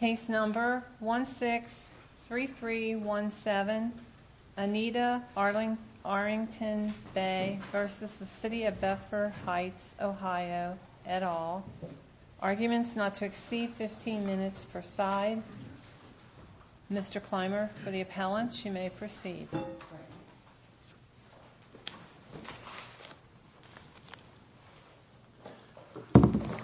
Case number 163317, Anita Arlington Bay v. The City of Bedford Heights, Ohio, et al. Arguments not to exceed 15 minutes per side. Mr. Clymer, for the appellant, you may proceed.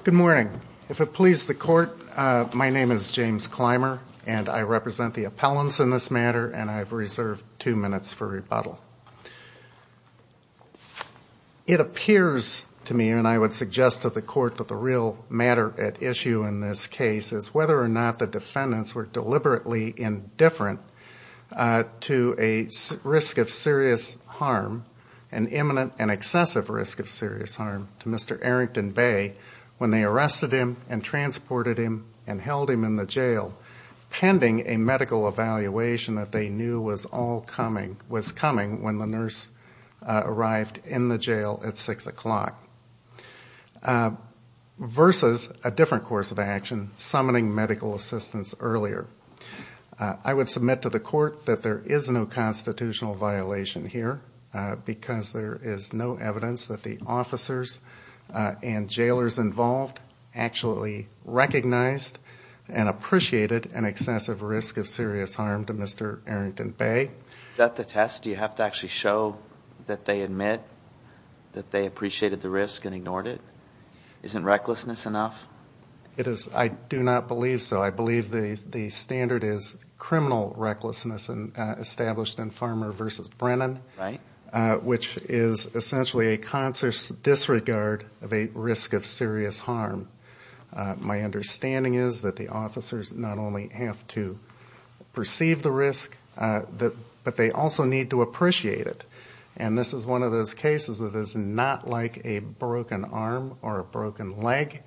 Good morning. If it pleases the court, my name is James Clymer, and I represent the appellants in this matter, and I've reserved two minutes for rebuttal. It appears to me and I would suggest to the court that the real matter at issue in this case is whether or not the defendants were deliberately indifferent to a risk of serious harm, an imminent and excessive risk of serious harm, to Mr. Arrington Bay when they arrested him and transported him and held him in the jail, pending a medical evaluation that they knew was coming when the nurse arrived in the jail at 6 o'clock, versus a different course of action, summoning medical assistance earlier. I would submit to the court that there is no constitutional violation here because there is no evidence that the officers and jailers involved actually recognized and appreciated an excessive risk of serious harm to Mr. Arrington Bay. Is that the test? Do you have to actually show that they admit that they appreciated the risk and ignored it? Isn't recklessness enough? I do not believe so. I believe the standard is criminal recklessness established in Farmer v. Brennan, which is essentially a conscious disregard of a risk of serious harm. My understanding is that the officers not only have to perceive the risk, but they also need to appreciate it. And this is one of those cases that is not like a broken arm or a broken leg,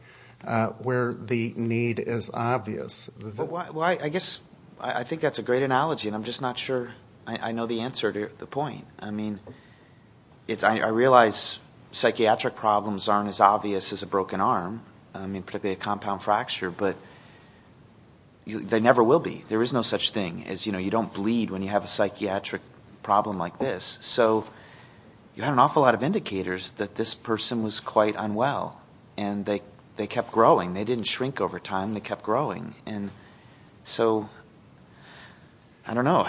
where the need is obvious. Well, I guess I think that's a great analogy, and I'm just not sure I know the answer to the point. I realize psychiatric problems aren't as obvious as a broken arm, particularly a compound fracture, but they never will be. There is no such thing as you don't bleed when you have a psychiatric problem like this. So you have an awful lot of indicators that this person was quite unwell, and they kept growing. They didn't shrink over time. They kept growing. And so I don't know.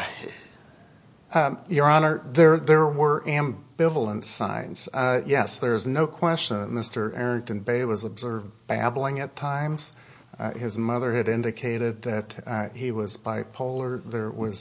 Your Honor, there were ambivalent signs. Yes, there is no question that Mr. Arrington Bay was observed babbling at times. His mother had indicated that he was bipolar.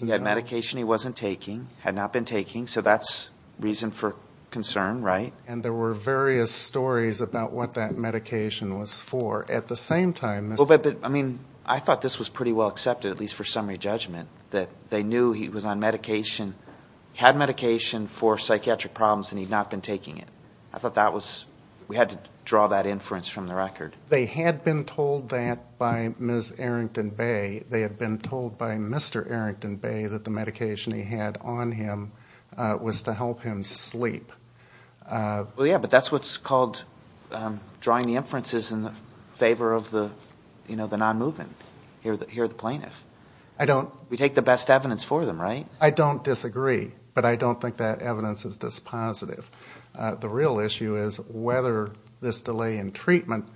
He had medication he wasn't taking, had not been taking, so that's reason for concern, right? And there were various stories about what that medication was for. At the same time, Mr. — I mean, I thought this was pretty well accepted, at least for summary judgment, that they knew he was on medication, had medication for psychiatric problems, and he'd not been taking it. I thought that was — we had to draw that inference from the record. They had been told that by Ms. Arrington Bay. They had been told by Mr. Arrington Bay that the medication he had on him was to help him sleep. Well, yeah, but that's what's called drawing the inferences in favor of the non-movement here at the plaintiff. I don't — We take the best evidence for them, right? I don't disagree, but I don't think that evidence is this positive. The real issue is whether this delay in treatment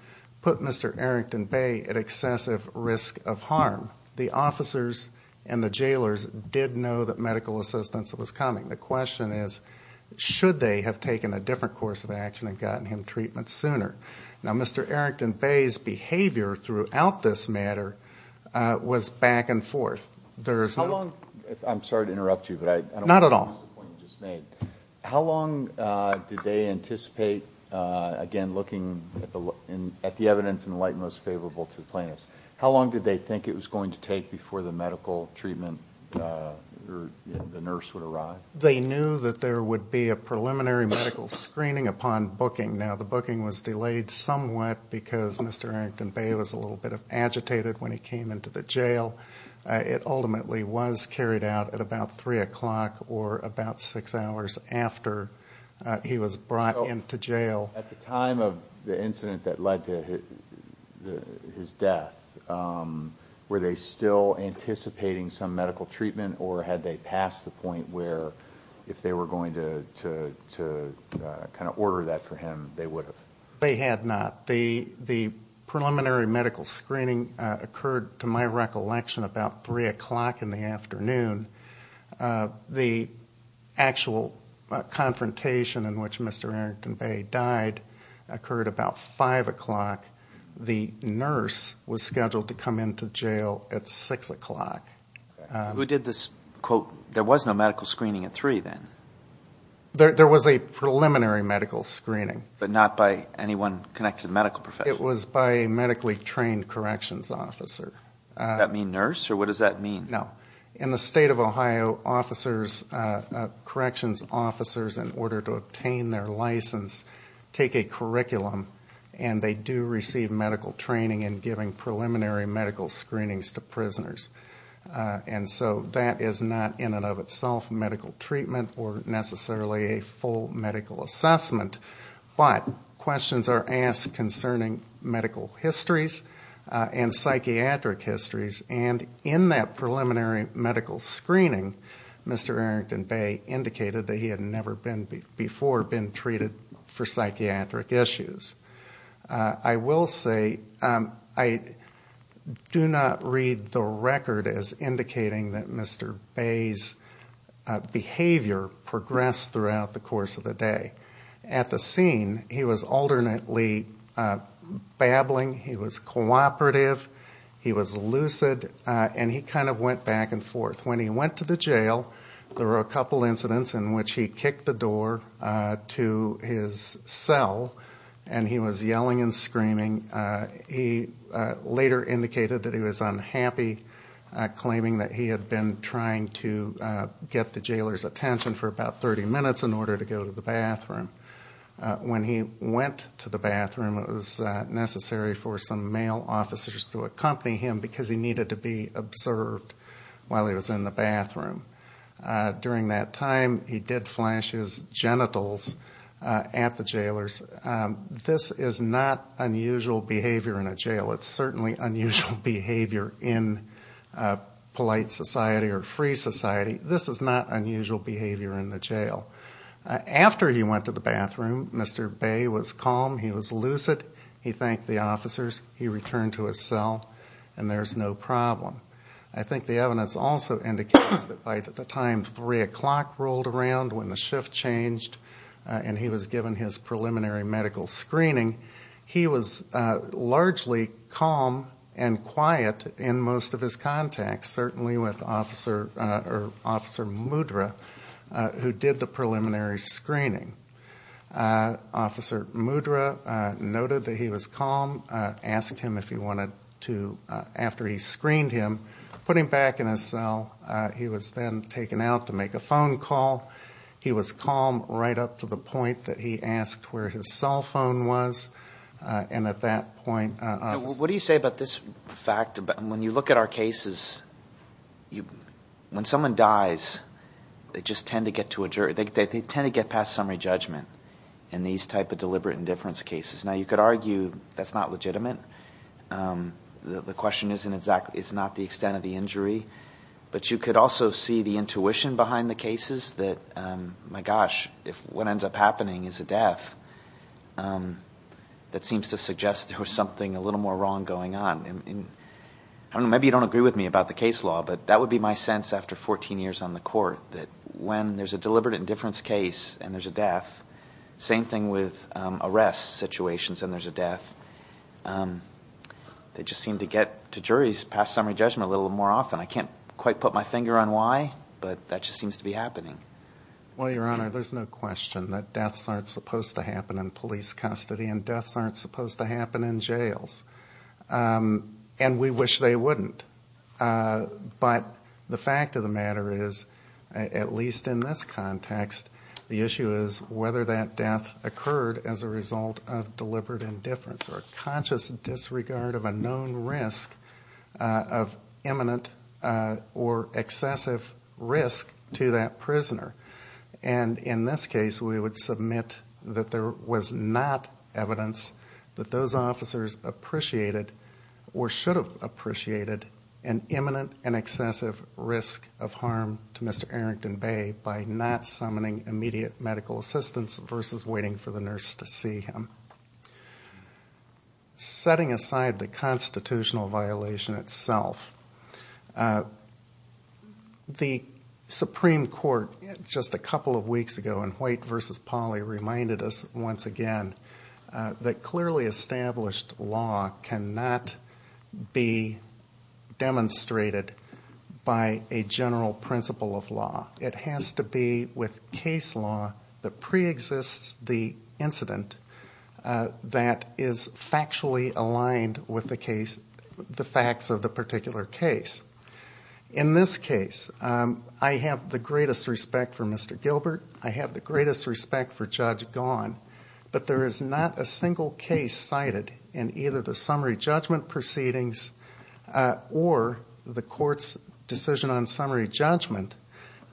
put Mr. Arrington Bay at excessive risk of harm. The officers and the jailers did know that medical assistance was coming. The question is, should they have taken a different course of action and gotten him treatment sooner? Now, Mr. Arrington Bay's behavior throughout this matter was back and forth. There is no — How long — I'm sorry to interrupt you, but I — Not at all. I lost the point you just made. How long did they anticipate, again, looking at the evidence in the light most favorable to the plaintiffs, how long did they think it was going to take before the medical treatment or the nurse would arrive? They knew that there would be a preliminary medical screening upon booking. Now, the booking was delayed somewhat because Mr. Arrington Bay was a little bit agitated when he came into the jail. It ultimately was carried out at about 3 o'clock or about 6 hours after he was brought into jail. At the time of the incident that led to his death, were they still anticipating some medical treatment or had they passed the point where if they were going to kind of order that for him, they would have? They had not. The preliminary medical screening occurred, to my recollection, about 3 o'clock in the afternoon. The actual confrontation in which Mr. Arrington Bay died occurred about 5 o'clock. The nurse was scheduled to come into jail at 6 o'clock. Who did this, quote, there was no medical screening at 3 then? There was a preliminary medical screening. But not by anyone connected to the medical profession? It was by a medically trained corrections officer. Does that mean nurse, or what does that mean? No. In the state of Ohio, corrections officers, in order to obtain their license, take a curriculum, and they do receive medical training in giving preliminary medical screenings to prisoners. And so that is not in and of itself medical treatment or necessarily a full medical assessment. But questions are asked concerning medical histories and psychiatric histories. And in that preliminary medical screening, Mr. Arrington Bay indicated that he had never before been treated for psychiatric issues. I will say I do not read the record as indicating that Mr. Bay's behavior progressed throughout the course of the day. At the scene, he was alternately babbling, he was cooperative, he was lucid, and he kind of went back and forth. When he went to the jail, there were a couple incidents in which he kicked the door to his cell, and he was yelling and screaming. He later indicated that he was unhappy, claiming that he had been trying to get the jailer's attention for about 30 minutes in order to go to the bathroom. When he went to the bathroom, it was necessary for some male officers to accompany him because he needed to be observed while he was in the bathroom. During that time, he did flash his genitals at the jailers. This is not unusual behavior in a jail. It's certainly unusual behavior in polite society or free society. This is not unusual behavior in the jail. After he went to the bathroom, Mr. Bay was calm, he was lucid, he thanked the officers, he returned to his cell, and there's no problem. I think the evidence also indicates that by the time 3 o'clock rolled around, when the shift changed, and he was given his preliminary medical screening, he was largely calm and quiet in most of his contacts, certainly with Officer Mudra, who did the preliminary screening. Officer Mudra noted that he was calm, asked him if he wanted to, after he screened him, put him back in his cell. He was then taken out to make a phone call. He was calm right up to the point that he asked where his cell phone was, and at that point... What do you say about this fact? When you look at our cases, when someone dies, they just tend to get to a jury. They tend to get past summary judgment in these type of deliberate indifference cases. Now, you could argue that's not legitimate. The question is not the extent of the injury. But you could also see the intuition behind the cases that, my gosh, if what ends up happening is a death, that seems to suggest there was something a little more wrong going on. Maybe you don't agree with me about the case law, but that would be my sense after 14 years on the court, that when there's a deliberate indifference case and there's a death, same thing with arrest situations and there's a death, they just seem to get to juries past summary judgment a little more often. I can't quite put my finger on why, but that just seems to be happening. Well, Your Honor, there's no question that deaths aren't supposed to happen in police custody and deaths aren't supposed to happen in jails. And we wish they wouldn't. But the fact of the matter is, at least in this context, the issue is whether that death occurred as a result of deliberate indifference or a conscious disregard of a known risk of imminent or excessive risk to that prisoner. And in this case, we would submit that there was not evidence that those officers appreciated or should have appreciated an imminent and excessive risk of harm to Mr. Arrington Bay by not summoning immediate medical assistance versus waiting for the nurse to see him. Setting aside the constitutional violation itself, the Supreme Court just a couple of weeks ago in White v. Pauley reminded us once again that clearly established law cannot be demonstrated by a general principle of law. It has to be with case law that preexists the incident that is factually aligned with the facts of the particular case. In this case, I have the greatest respect for Mr. Gilbert. I have the greatest respect for Judge Gaughan. But there is not a single case cited in either the summary judgment proceedings or the court's decision on summary judgment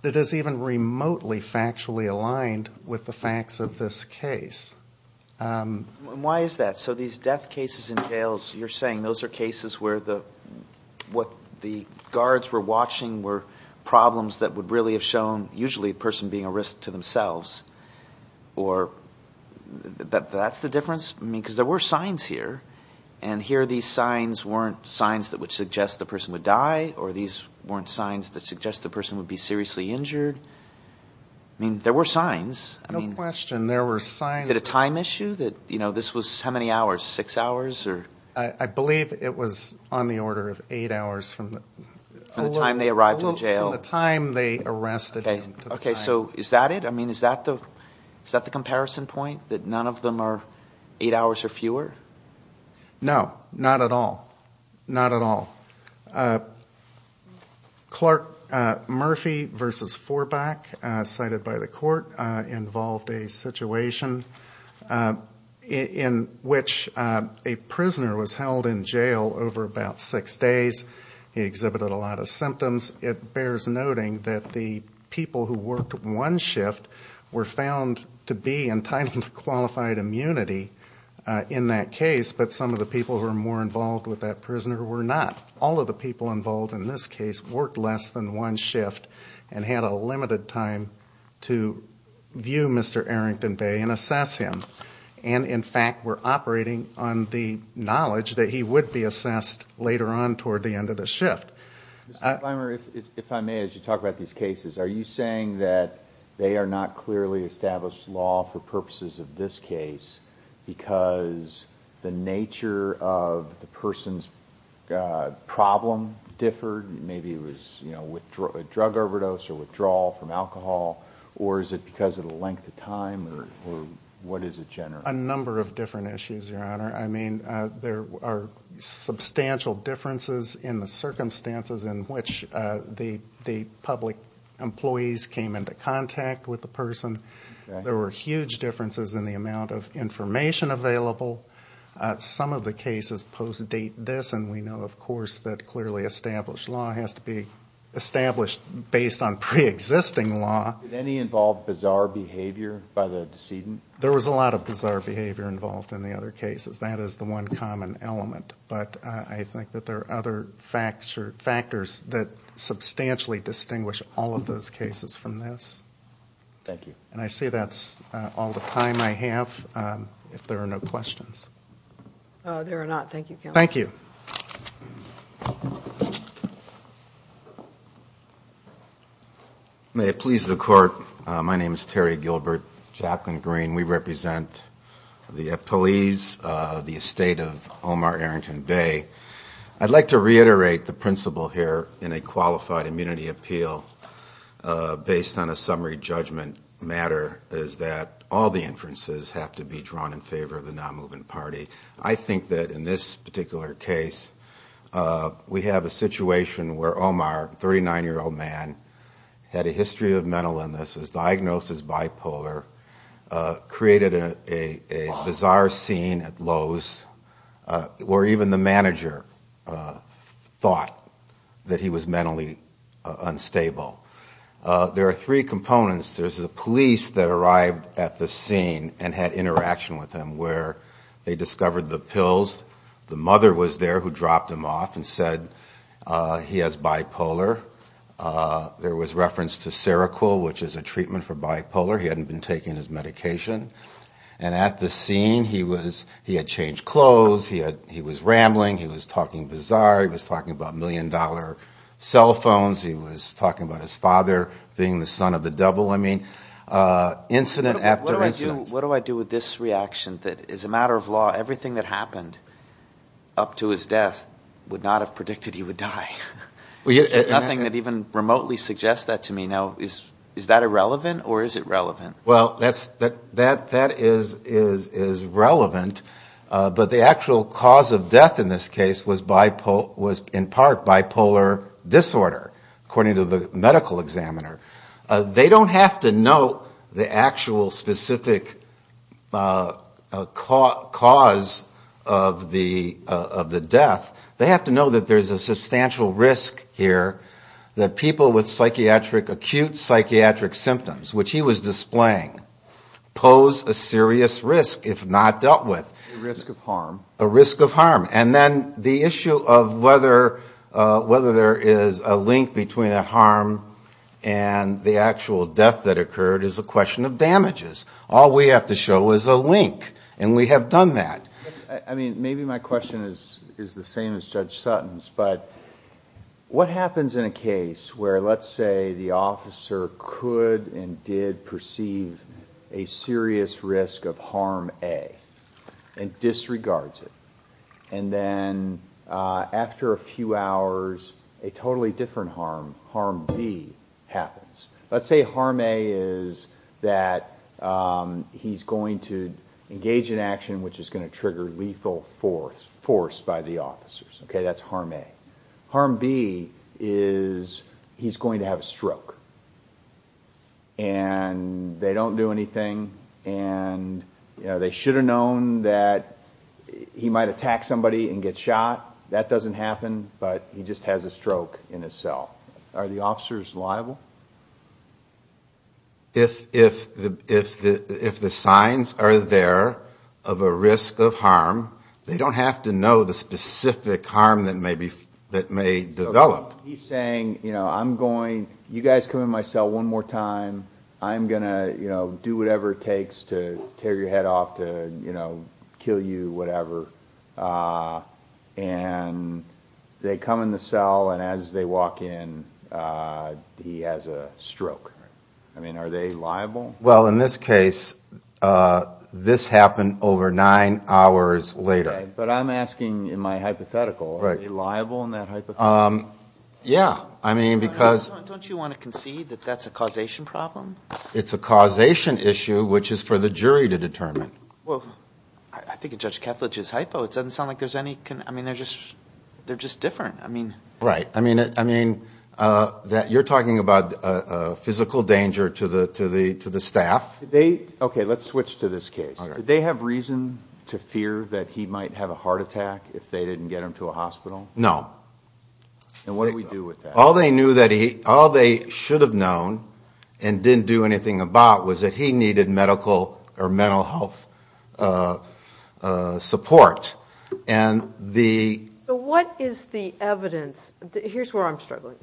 that is even remotely factually aligned with the facts of this case. Why is that? So these death cases entails, you're saying those are cases where what the guards were watching were problems that would really have shown usually a person being a risk to themselves, or that's the difference? I mean, because there were signs here. And here these signs weren't signs that would suggest the person would die, or these weren't signs that suggest the person would be seriously injured. I mean, there were signs. No question, there were signs. Is it a time issue that this was how many hours, six hours? I believe it was on the order of eight hours from the time they arrived to the jail. From the time they arrested him. Okay, so is that it? I mean, is that the comparison point, that none of them are eight hours or fewer? No, not at all. Not at all. Clark Murphy v. Forbach, cited by the court, involved a situation in which a prisoner was held in jail over about six days. He exhibited a lot of symptoms. It bears noting that the people who worked one shift were found to be entitled to qualified immunity in that case, but some of the people who were more involved with that prisoner were not. All of the people involved in this case worked less than one shift and had a limited time to view Mr. Arrington Bay and assess him. And, in fact, were operating on the knowledge that he would be assessed later on toward the end of the shift. Mr. Kleimer, if I may, as you talk about these cases, are you saying that they are not clearly established law for purposes of this case because the nature of the person's problem differed? Maybe it was a drug overdose or withdrawal from alcohol, or is it because of the length of time, or what is it generally? A number of different issues, Your Honor. I mean, there are substantial differences in the circumstances in which the public employees came into contact with the person. There were huge differences in the amount of information available. Some of the cases post-date this, and we know, of course, that clearly established law has to be established based on preexisting law. Did any involve bizarre behavior by the decedent? There was a lot of bizarre behavior involved in the other cases. That is the one common element, but I think that there are other factors that substantially distinguish all of those cases from this. Thank you. And I see that's all the time I have, if there are no questions. There are not. Thank you, Counselor. Thank you. May it please the Court, my name is Terry Gilbert. Chaplain Green. We represent the police, the estate of Omar Arrington Day. I'd like to reiterate the principle here in a qualified immunity appeal based on a summary judgment matter, is that all the inferences have to be drawn in favor of the non-moving party. I think that in this particular case, we have a situation where Omar, a 39-year-old man, had a history of mental illness, was diagnosed as bipolar, created a bizarre scene at Lowe's, where even the manager thought that he was mentally unstable. There are three components. There's the police that arrived at the scene and had interaction with him, where they discovered the pills. The mother was there who dropped him off and said, he has bipolar. There was reference to Seroquel, which is a treatment for bipolar. He hadn't been taking his medication. And at the scene, he had changed clothes, he was rambling, he was talking bizarre, he was talking about million-dollar cell phones, he was talking about his father being the son of the devil. I mean, incident after incident. What do I do with this reaction that, as a matter of law, everything that happened up to his death would not have predicted he would die? There's nothing that even remotely suggests that to me. Now, is that irrelevant, or is it relevant? Well, that is relevant. But the actual cause of death in this case was, in part, bipolar disorder, according to the medical examiner. They don't have to know the actual specific cause of the death. They have to know that there's a substantial risk here that people with psychiatric, acute psychiatric symptoms, which he was displaying, pose a serious risk, if not dealt with. A risk of harm. A risk of harm. And then the issue of whether there is a link between the harm and the actual death that occurred is a question of damages. All we have to show is a link, and we have done that. I mean, maybe my question is the same as Judge Sutton's, but what happens in a case where, let's say, the officer could and did perceive a serious risk of harm A and disregards it, and then after a few hours a totally different harm, harm B, happens? Let's say harm A is that he's going to engage in action which is going to trigger lethal force by the officers. That's harm A. Harm B is he's going to have a stroke and they don't do anything and they should have known that he might attack somebody and get shot. That doesn't happen, but he just has a stroke in his cell. Are the officers liable? If the signs are there of a risk of harm, they don't have to know the specific harm that may develop. He's saying, you know, I'm going, you guys come in my cell one more time. I'm going to, you know, do whatever it takes to tear your head off, to, you know, kill you, whatever. And they come in the cell and as they walk in, he has a stroke. I mean, are they liable? Well, in this case, this happened over nine hours later. But I'm asking in my hypothetical, are they liable in that hypothetical? Yeah, I mean, because. Don't you want to concede that that's a causation problem? Well, I think Judge Kethledge is hypo. It doesn't sound like there's any, I mean, they're just different. Right, I mean, you're talking about physical danger to the staff. Okay, let's switch to this case. Did they have reason to fear that he might have a heart attack if they didn't get him to a hospital? No. And what do we do with that? All they knew that he, all they should have known and didn't do anything about was that he needed medical or mental health support. So what is the evidence? Here's where I'm struggling.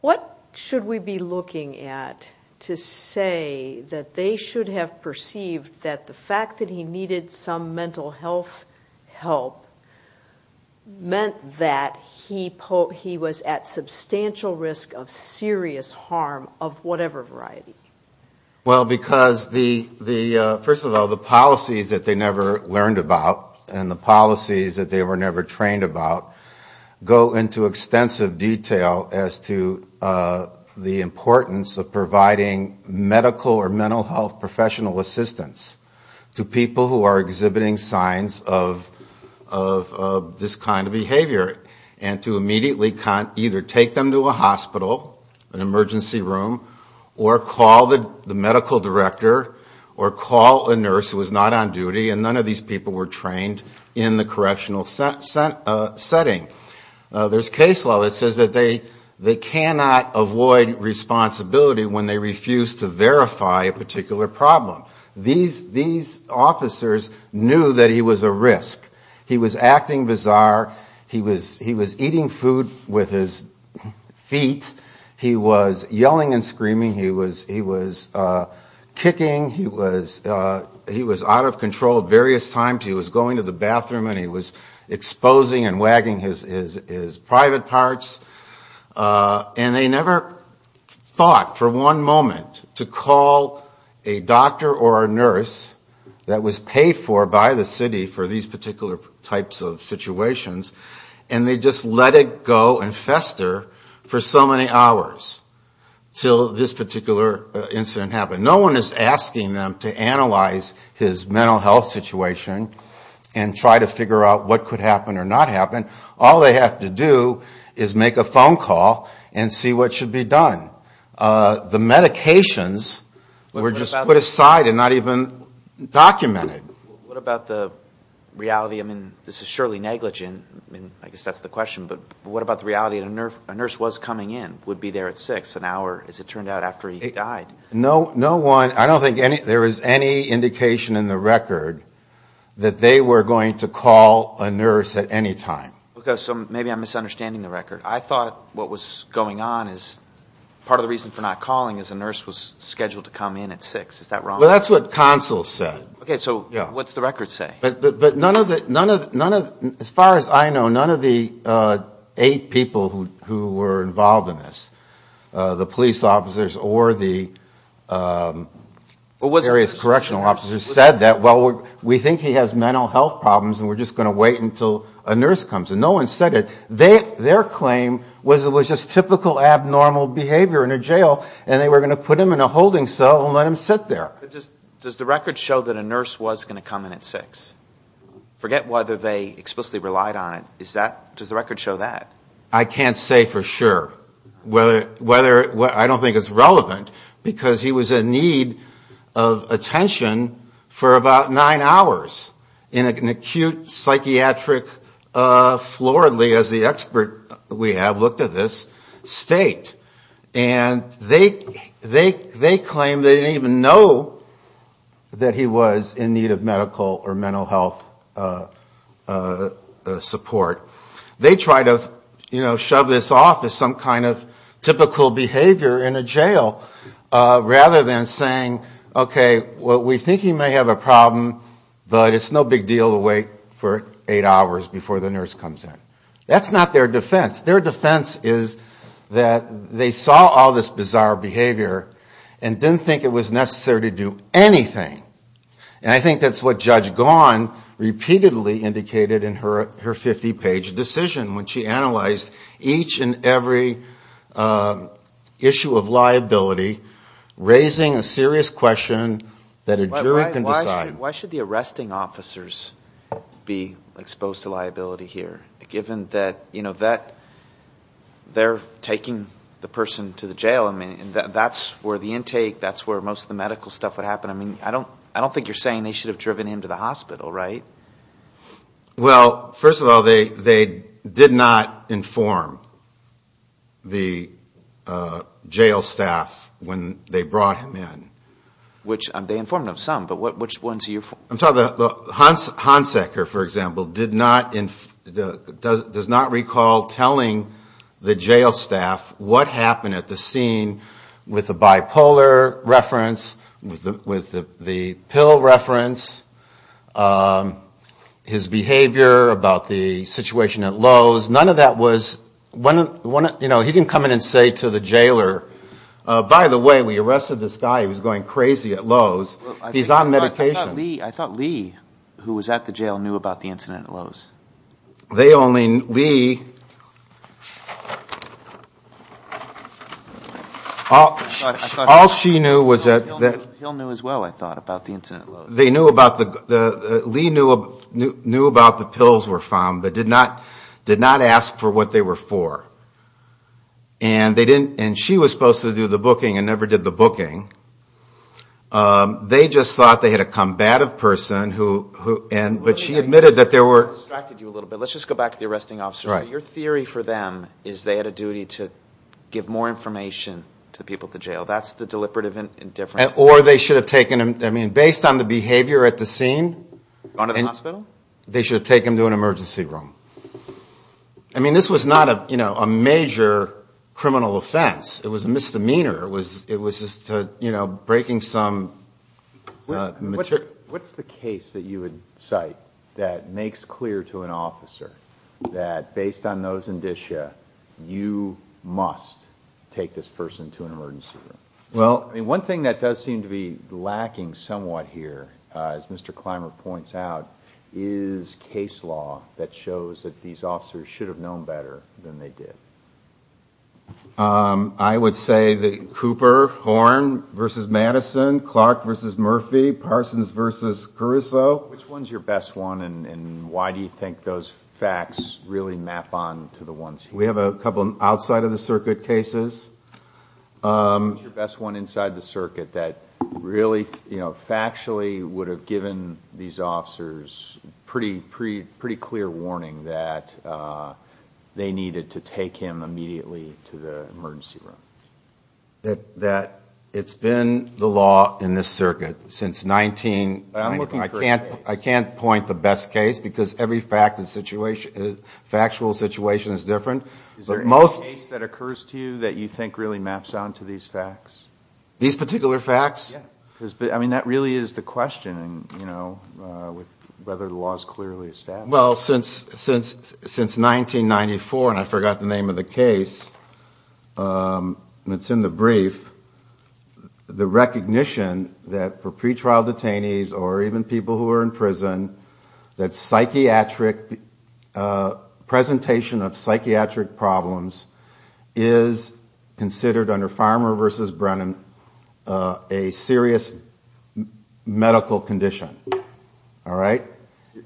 What should we be looking at to say that they should have perceived that the fact that he needed some mental health help meant that he was at substantial risk of serious harm of whatever variety? Well, because the, first of all, the policies that they never learned about and the policies that they were never trained about go into extensive detail as to the importance of providing medical or mental health professional assistance to people who are exhibiting signs of this kind of behavior. And to immediately either take them to a hospital, an emergency room, or call the medical director or call a nurse who is not on duty. And none of these people were trained in the correctional setting. There's case law that says that they cannot avoid responsibility when they refuse to verify a particular problem. These officers knew that he was a risk. He was acting bizarre. He was eating food with his feet. He was yelling and screaming. He was kicking. He was out of control at various times. He was going to the bathroom and he was exposing and wagging his private parts. And they never thought for one moment to call a doctor or a nurse that was paid for by the city for these particular types of situations. And they just let it go and fester for so many hours until this particular incident happened. No one is asking them to analyze his mental health situation and try to figure out how to make a phone call and see what should be done. The medications were just put aside and not even documented. What about the reality? I mean, this is surely negligent. I mean, I guess that's the question. But what about the reality that a nurse was coming in, would be there at 6, an hour, as it turned out, after he died? No one, I don't think there is any indication in the record that they were going to call a nurse at any time. Okay, so maybe I'm misunderstanding the record. I thought what was going on is part of the reason for not calling is a nurse was scheduled to come in at 6. Is that wrong? Well, that's what counsel said. Okay, so what's the record say? But none of the, as far as I know, none of the eight people who were involved in this, the police officers or the various correctional officers said that, well, we think he has mental health problems and we're just going to wait until a nurse comes. And no one said it. Their claim was it was just typical abnormal behavior in a jail and they were going to put him in a holding cell and let him sit there. Does the record show that a nurse was going to come in at 6? Forget whether they explicitly relied on it. Does the record show that? I can't say for sure. I don't think it's relevant because he was in need of attention for about nine hours in an acute psychiatric, floridly as the expert we have looked at this, state. And they claim they didn't even know that he was in need of medical or mental health support. They try to, you know, shove this off as some kind of typical behavior in a jail rather than saying, okay, well, we think he may have a problem, but it's no big deal to wait for eight hours before the nurse comes in. That's not their defense. Their defense is that they saw all this bizarre behavior and didn't think it was necessary to do anything. And I think that's what Judge Gaughan repeatedly indicated in her 50 pages decision when she analyzed each and every issue of liability, raising a serious question that a jury can decide. Why should the arresting officers be exposed to liability here, given that they're taking the person to the jail? That's where the intake, that's where most of the medical stuff would happen. I don't think you're saying they should have driven him to the hospital, right? Well, first of all, they did not inform the jail staff when they brought him in. They informed them of some, but which ones are you referring to? Hans Ecker, for example, does not recall telling the jail staff what happened at the scene with the bipolar reference, with the pill reference. His behavior, about the situation at Lowe's. None of that was, you know, he didn't come in and say to the jailer, by the way, we arrested this guy, he was going crazy at Lowe's. He's on medication. I thought Lee, who was at the jail, knew about the incident at Lowe's. They only, Lee, all she knew was that... Lee knew about the pills were found, but did not ask for what they were for. And they didn't, and she was supposed to do the booking and never did the booking. They just thought they had a combative person, but she admitted that there were... Let's just go back to the arresting officers. Your theory for them is they had a duty to give more information to the people at the jail. That's the deliberative indifference. Or they should have taken him, I mean, based on the behavior at the scene... Gone to the hospital? They should have taken him to an emergency room. I mean, this was not a major criminal offense. It was a misdemeanor. It was just breaking some... What's the case that you would cite that makes clear to an officer that based on those indicia, you must take this person to an emergency room? Well... I mean, one thing that does seem to be lacking somewhat here, as Mr. Clymer points out, is case law that shows that these officers should have known better than they did. I would say that Cooper, Horn versus Madison, Clark versus Murphy, Parsons versus Caruso... Which one's your best one, and why do you think those facts really map on to the ones here? We have a couple outside of the circuit cases. What's your best one inside the circuit that really, factually, would have given these officers pretty clear warning that they needed to take him immediately to the emergency room? That it's been the law in this circuit since 19... I can't point the best case, because every factual situation is different. Is there any case that occurs to you that you think really maps on to these facts? These particular facts? I mean, that really is the question, whether the law is clearly established. Well, since 1994, and I forgot the name of the case, and it's in the brief, the recognition that for pretrial detainees, or even people who are in prison, that psychiatric... psychiatric problems is considered under Farmer versus Brennan a serious medical condition. All right?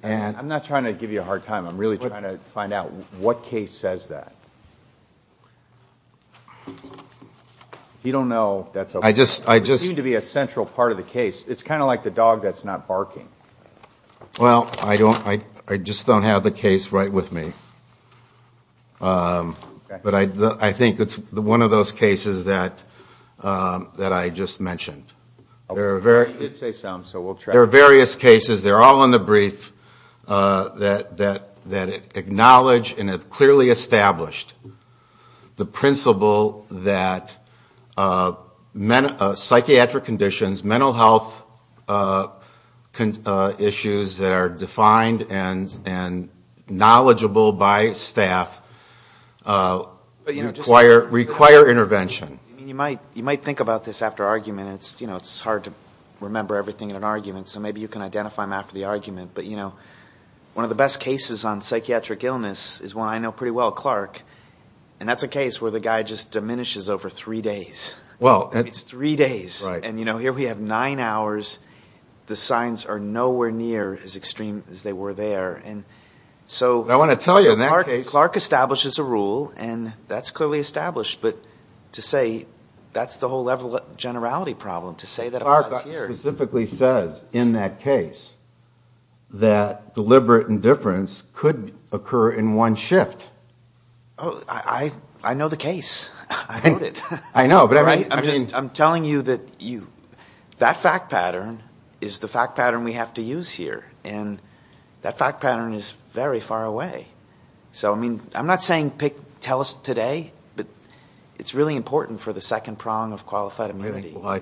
I'm not trying to give you a hard time. I'm really trying to find out what case says that. If you don't know, that's okay. It seems to be a central part of the case. It's kind of like the dog that's not barking. Well, I don't... I just don't have the case right with me. But I think it's one of those cases that I just mentioned. There are various cases. They're all in the brief that acknowledge and have clearly established the principle that psychiatric conditions, mental health conditions, issues that are defined and knowledgeable by staff require intervention. You might think about this after argument. It's hard to remember everything in an argument, so maybe you can identify them after the argument. But one of the best cases on psychiatric illness is one I know pretty well, Clark. And that's a case where the guy just diminishes over three days. It's three days. And here we have nine hours, the signs are nowhere near as extreme as they were there. Clark establishes a rule, and that's clearly established. But to say that's the whole level of generality problem, to say that... Clark specifically says in that case that deliberate indifference could occur in one shift. I know the case. I'm telling you that that fact pattern is the fact pattern we have to use here. And that fact pattern is very far away. I'm not saying tell us today, but it's really important for the second prong of qualified immunity. Another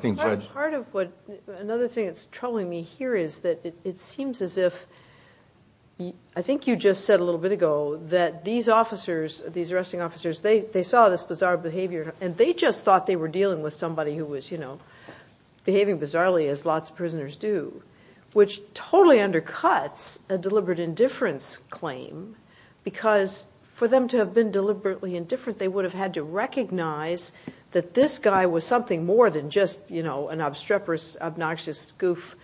thing that's troubling me here is that it seems as if, I think you just said a little bit ago, that these officers, these arresting officers, they saw this bizarre behavior. And they just thought they were dealing with somebody who was behaving bizarrely, as lots of prisoners do. Which totally undercuts a deliberate indifference claim, because for them to have been deliberately indifferent, they would have had to recognize that this guy was something more than just an obnoxious goof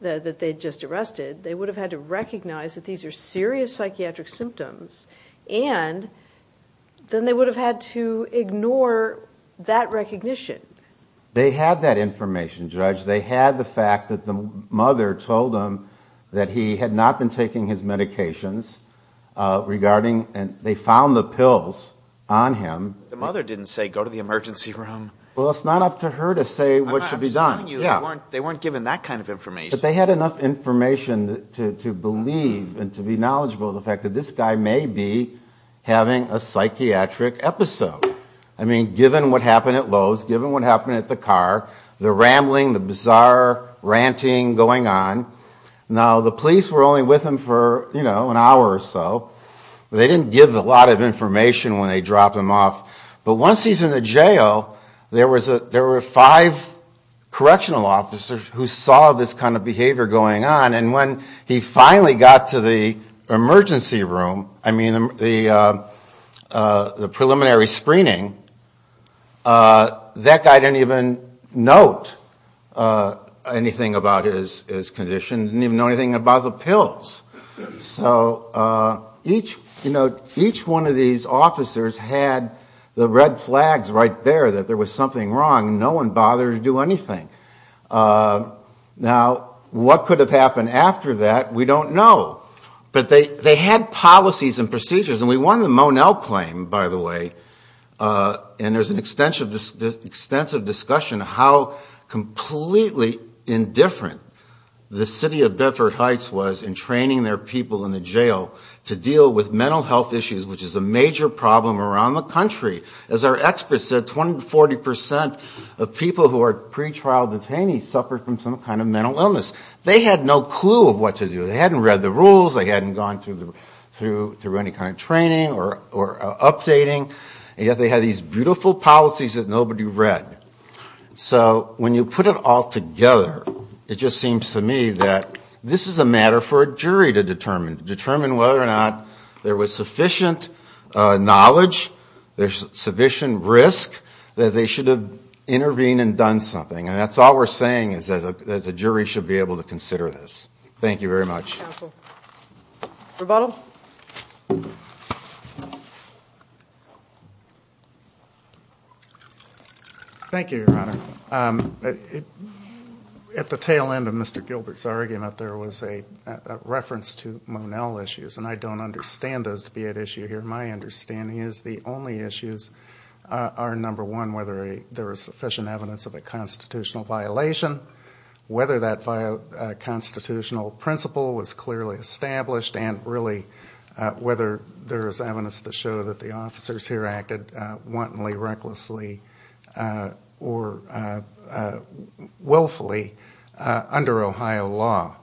that they'd just arrested. They would have had to recognize that these are serious psychiatric symptoms. And then they would have had to ignore that recognition. They had that information, Judge. They had the fact that the mother told them that he had not been taking his medications. They found the pills on him. The mother didn't say go to the emergency room. Well, it's not up to her to say what should be done. They weren't given that kind of information. But they had enough information to believe and to be knowledgeable of the fact that this guy may be having a psychiatric episode. I mean, given what happened at Lowe's, given what happened at the car, the rambling, the bizarre ranting going on. Now, the police were only with him for, you know, an hour or so. They didn't give a lot of information when they dropped him off. But once he's in the jail, there were five correctional officers who saw this kind of behavior going on. And when he finally got to the emergency room, I mean, the preliminary screening, that guy didn't even note anything about his condition. He didn't even know anything about the pills. So each, you know, each one of these officers had the red flags right there that there was something wrong. No one bothered to do anything. Now, what could have happened after that, we don't know. But they had policies and procedures. And we won the Monell claim, by the way. And there's an extensive discussion of how completely indifferent the city of Bedford Heights was in training their people in the jail to deal with mental health issues, which is a major problem around the country. As our experts said, 20 to 40 percent of people who are pretrial detainees suffered from some kind of mental illness. They had no clue of what to do. They hadn't read the rules, they hadn't gone through any kind of training or updating, and yet they had these beautiful policies that nobody read. So when you put it all together, it just seems to me that this is a matter for a jury to determine, to determine whether or not there was sufficient risk that they should have intervened and done something. And that's all we're saying, is that the jury should be able to consider this. Thank you very much. Rebuttal. Thank you, Your Honor. At the tail end of Mr. Gilbert's argument, there was a reference to Monell issues. And I don't understand those to be at issue here. My understanding is the only issues are, number one, whether there was sufficient evidence of a constitutional violation, whether that constitutional principle was clearly established, and really, whether there is evidence to show that the officers here acted wantonly, recklessly, or willfully under Ohio law.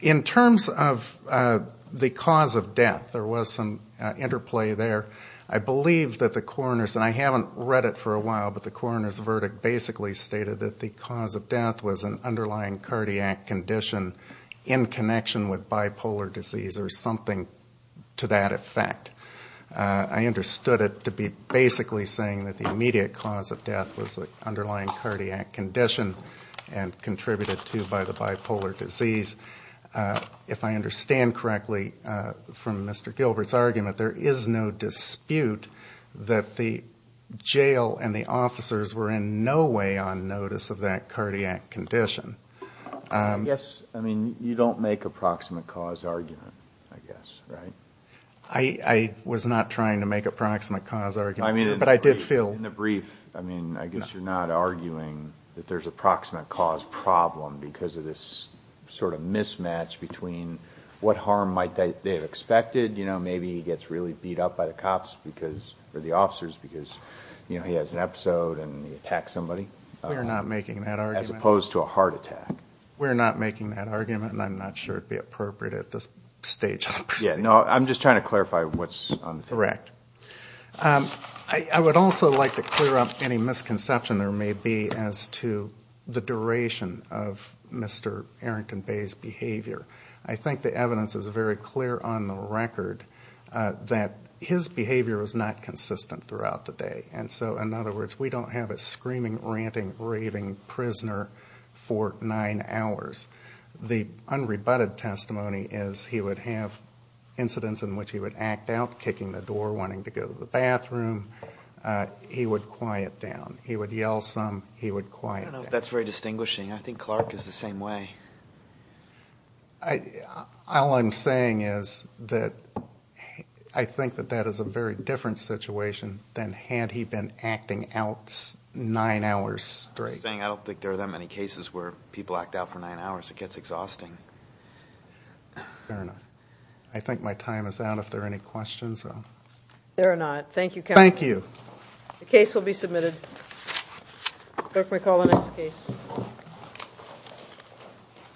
In terms of the cause of death, there was some evidence that the coroner's verdict basically stated that the cause of death was an underlying cardiac condition in connection with bipolar disease or something to that effect. I understood it to be basically saying that the immediate cause of death was an underlying cardiac condition and contributed to by the bipolar disease. So there is no dispute that the jail and the officers were in no way on notice of that cardiac condition. Yes. I mean, you don't make a proximate cause argument, I guess, right? I was not trying to make a proximate cause argument, but I did feel In the brief, I mean, I guess you're not arguing that there's a proximate cause problem because of this sort of mismatch between what harm might they have expected. Maybe he gets really beat up by the cops or the officers because he has an episode and he attacks somebody. We're not making that argument. As opposed to a heart attack. We're not making that argument, and I'm not sure it would be appropriate at this stage. I'm just trying to clarify what's on the table. Correct. I would also like to clear up any misconception there may be as to the duration of Mr. Arrington Bay's behavior. I think the evidence is very clear on the record that his behavior was not consistent throughout the day. And so, in other words, we don't have a screaming, ranting, raving prisoner for nine hours. The unrebutted testimony is he would have incidents in which he would act out, kicking the door, wanting to go to the bathroom. He would quiet down. He would yell some. He would quiet down. I don't know if that's very distinguishing. I think Clark is the same way. All I'm saying is that I think that that is a very different situation than had he been acting out nine hours straight. I don't think there are that many cases where people act out for nine hours straight. Thank you. The case will be submitted.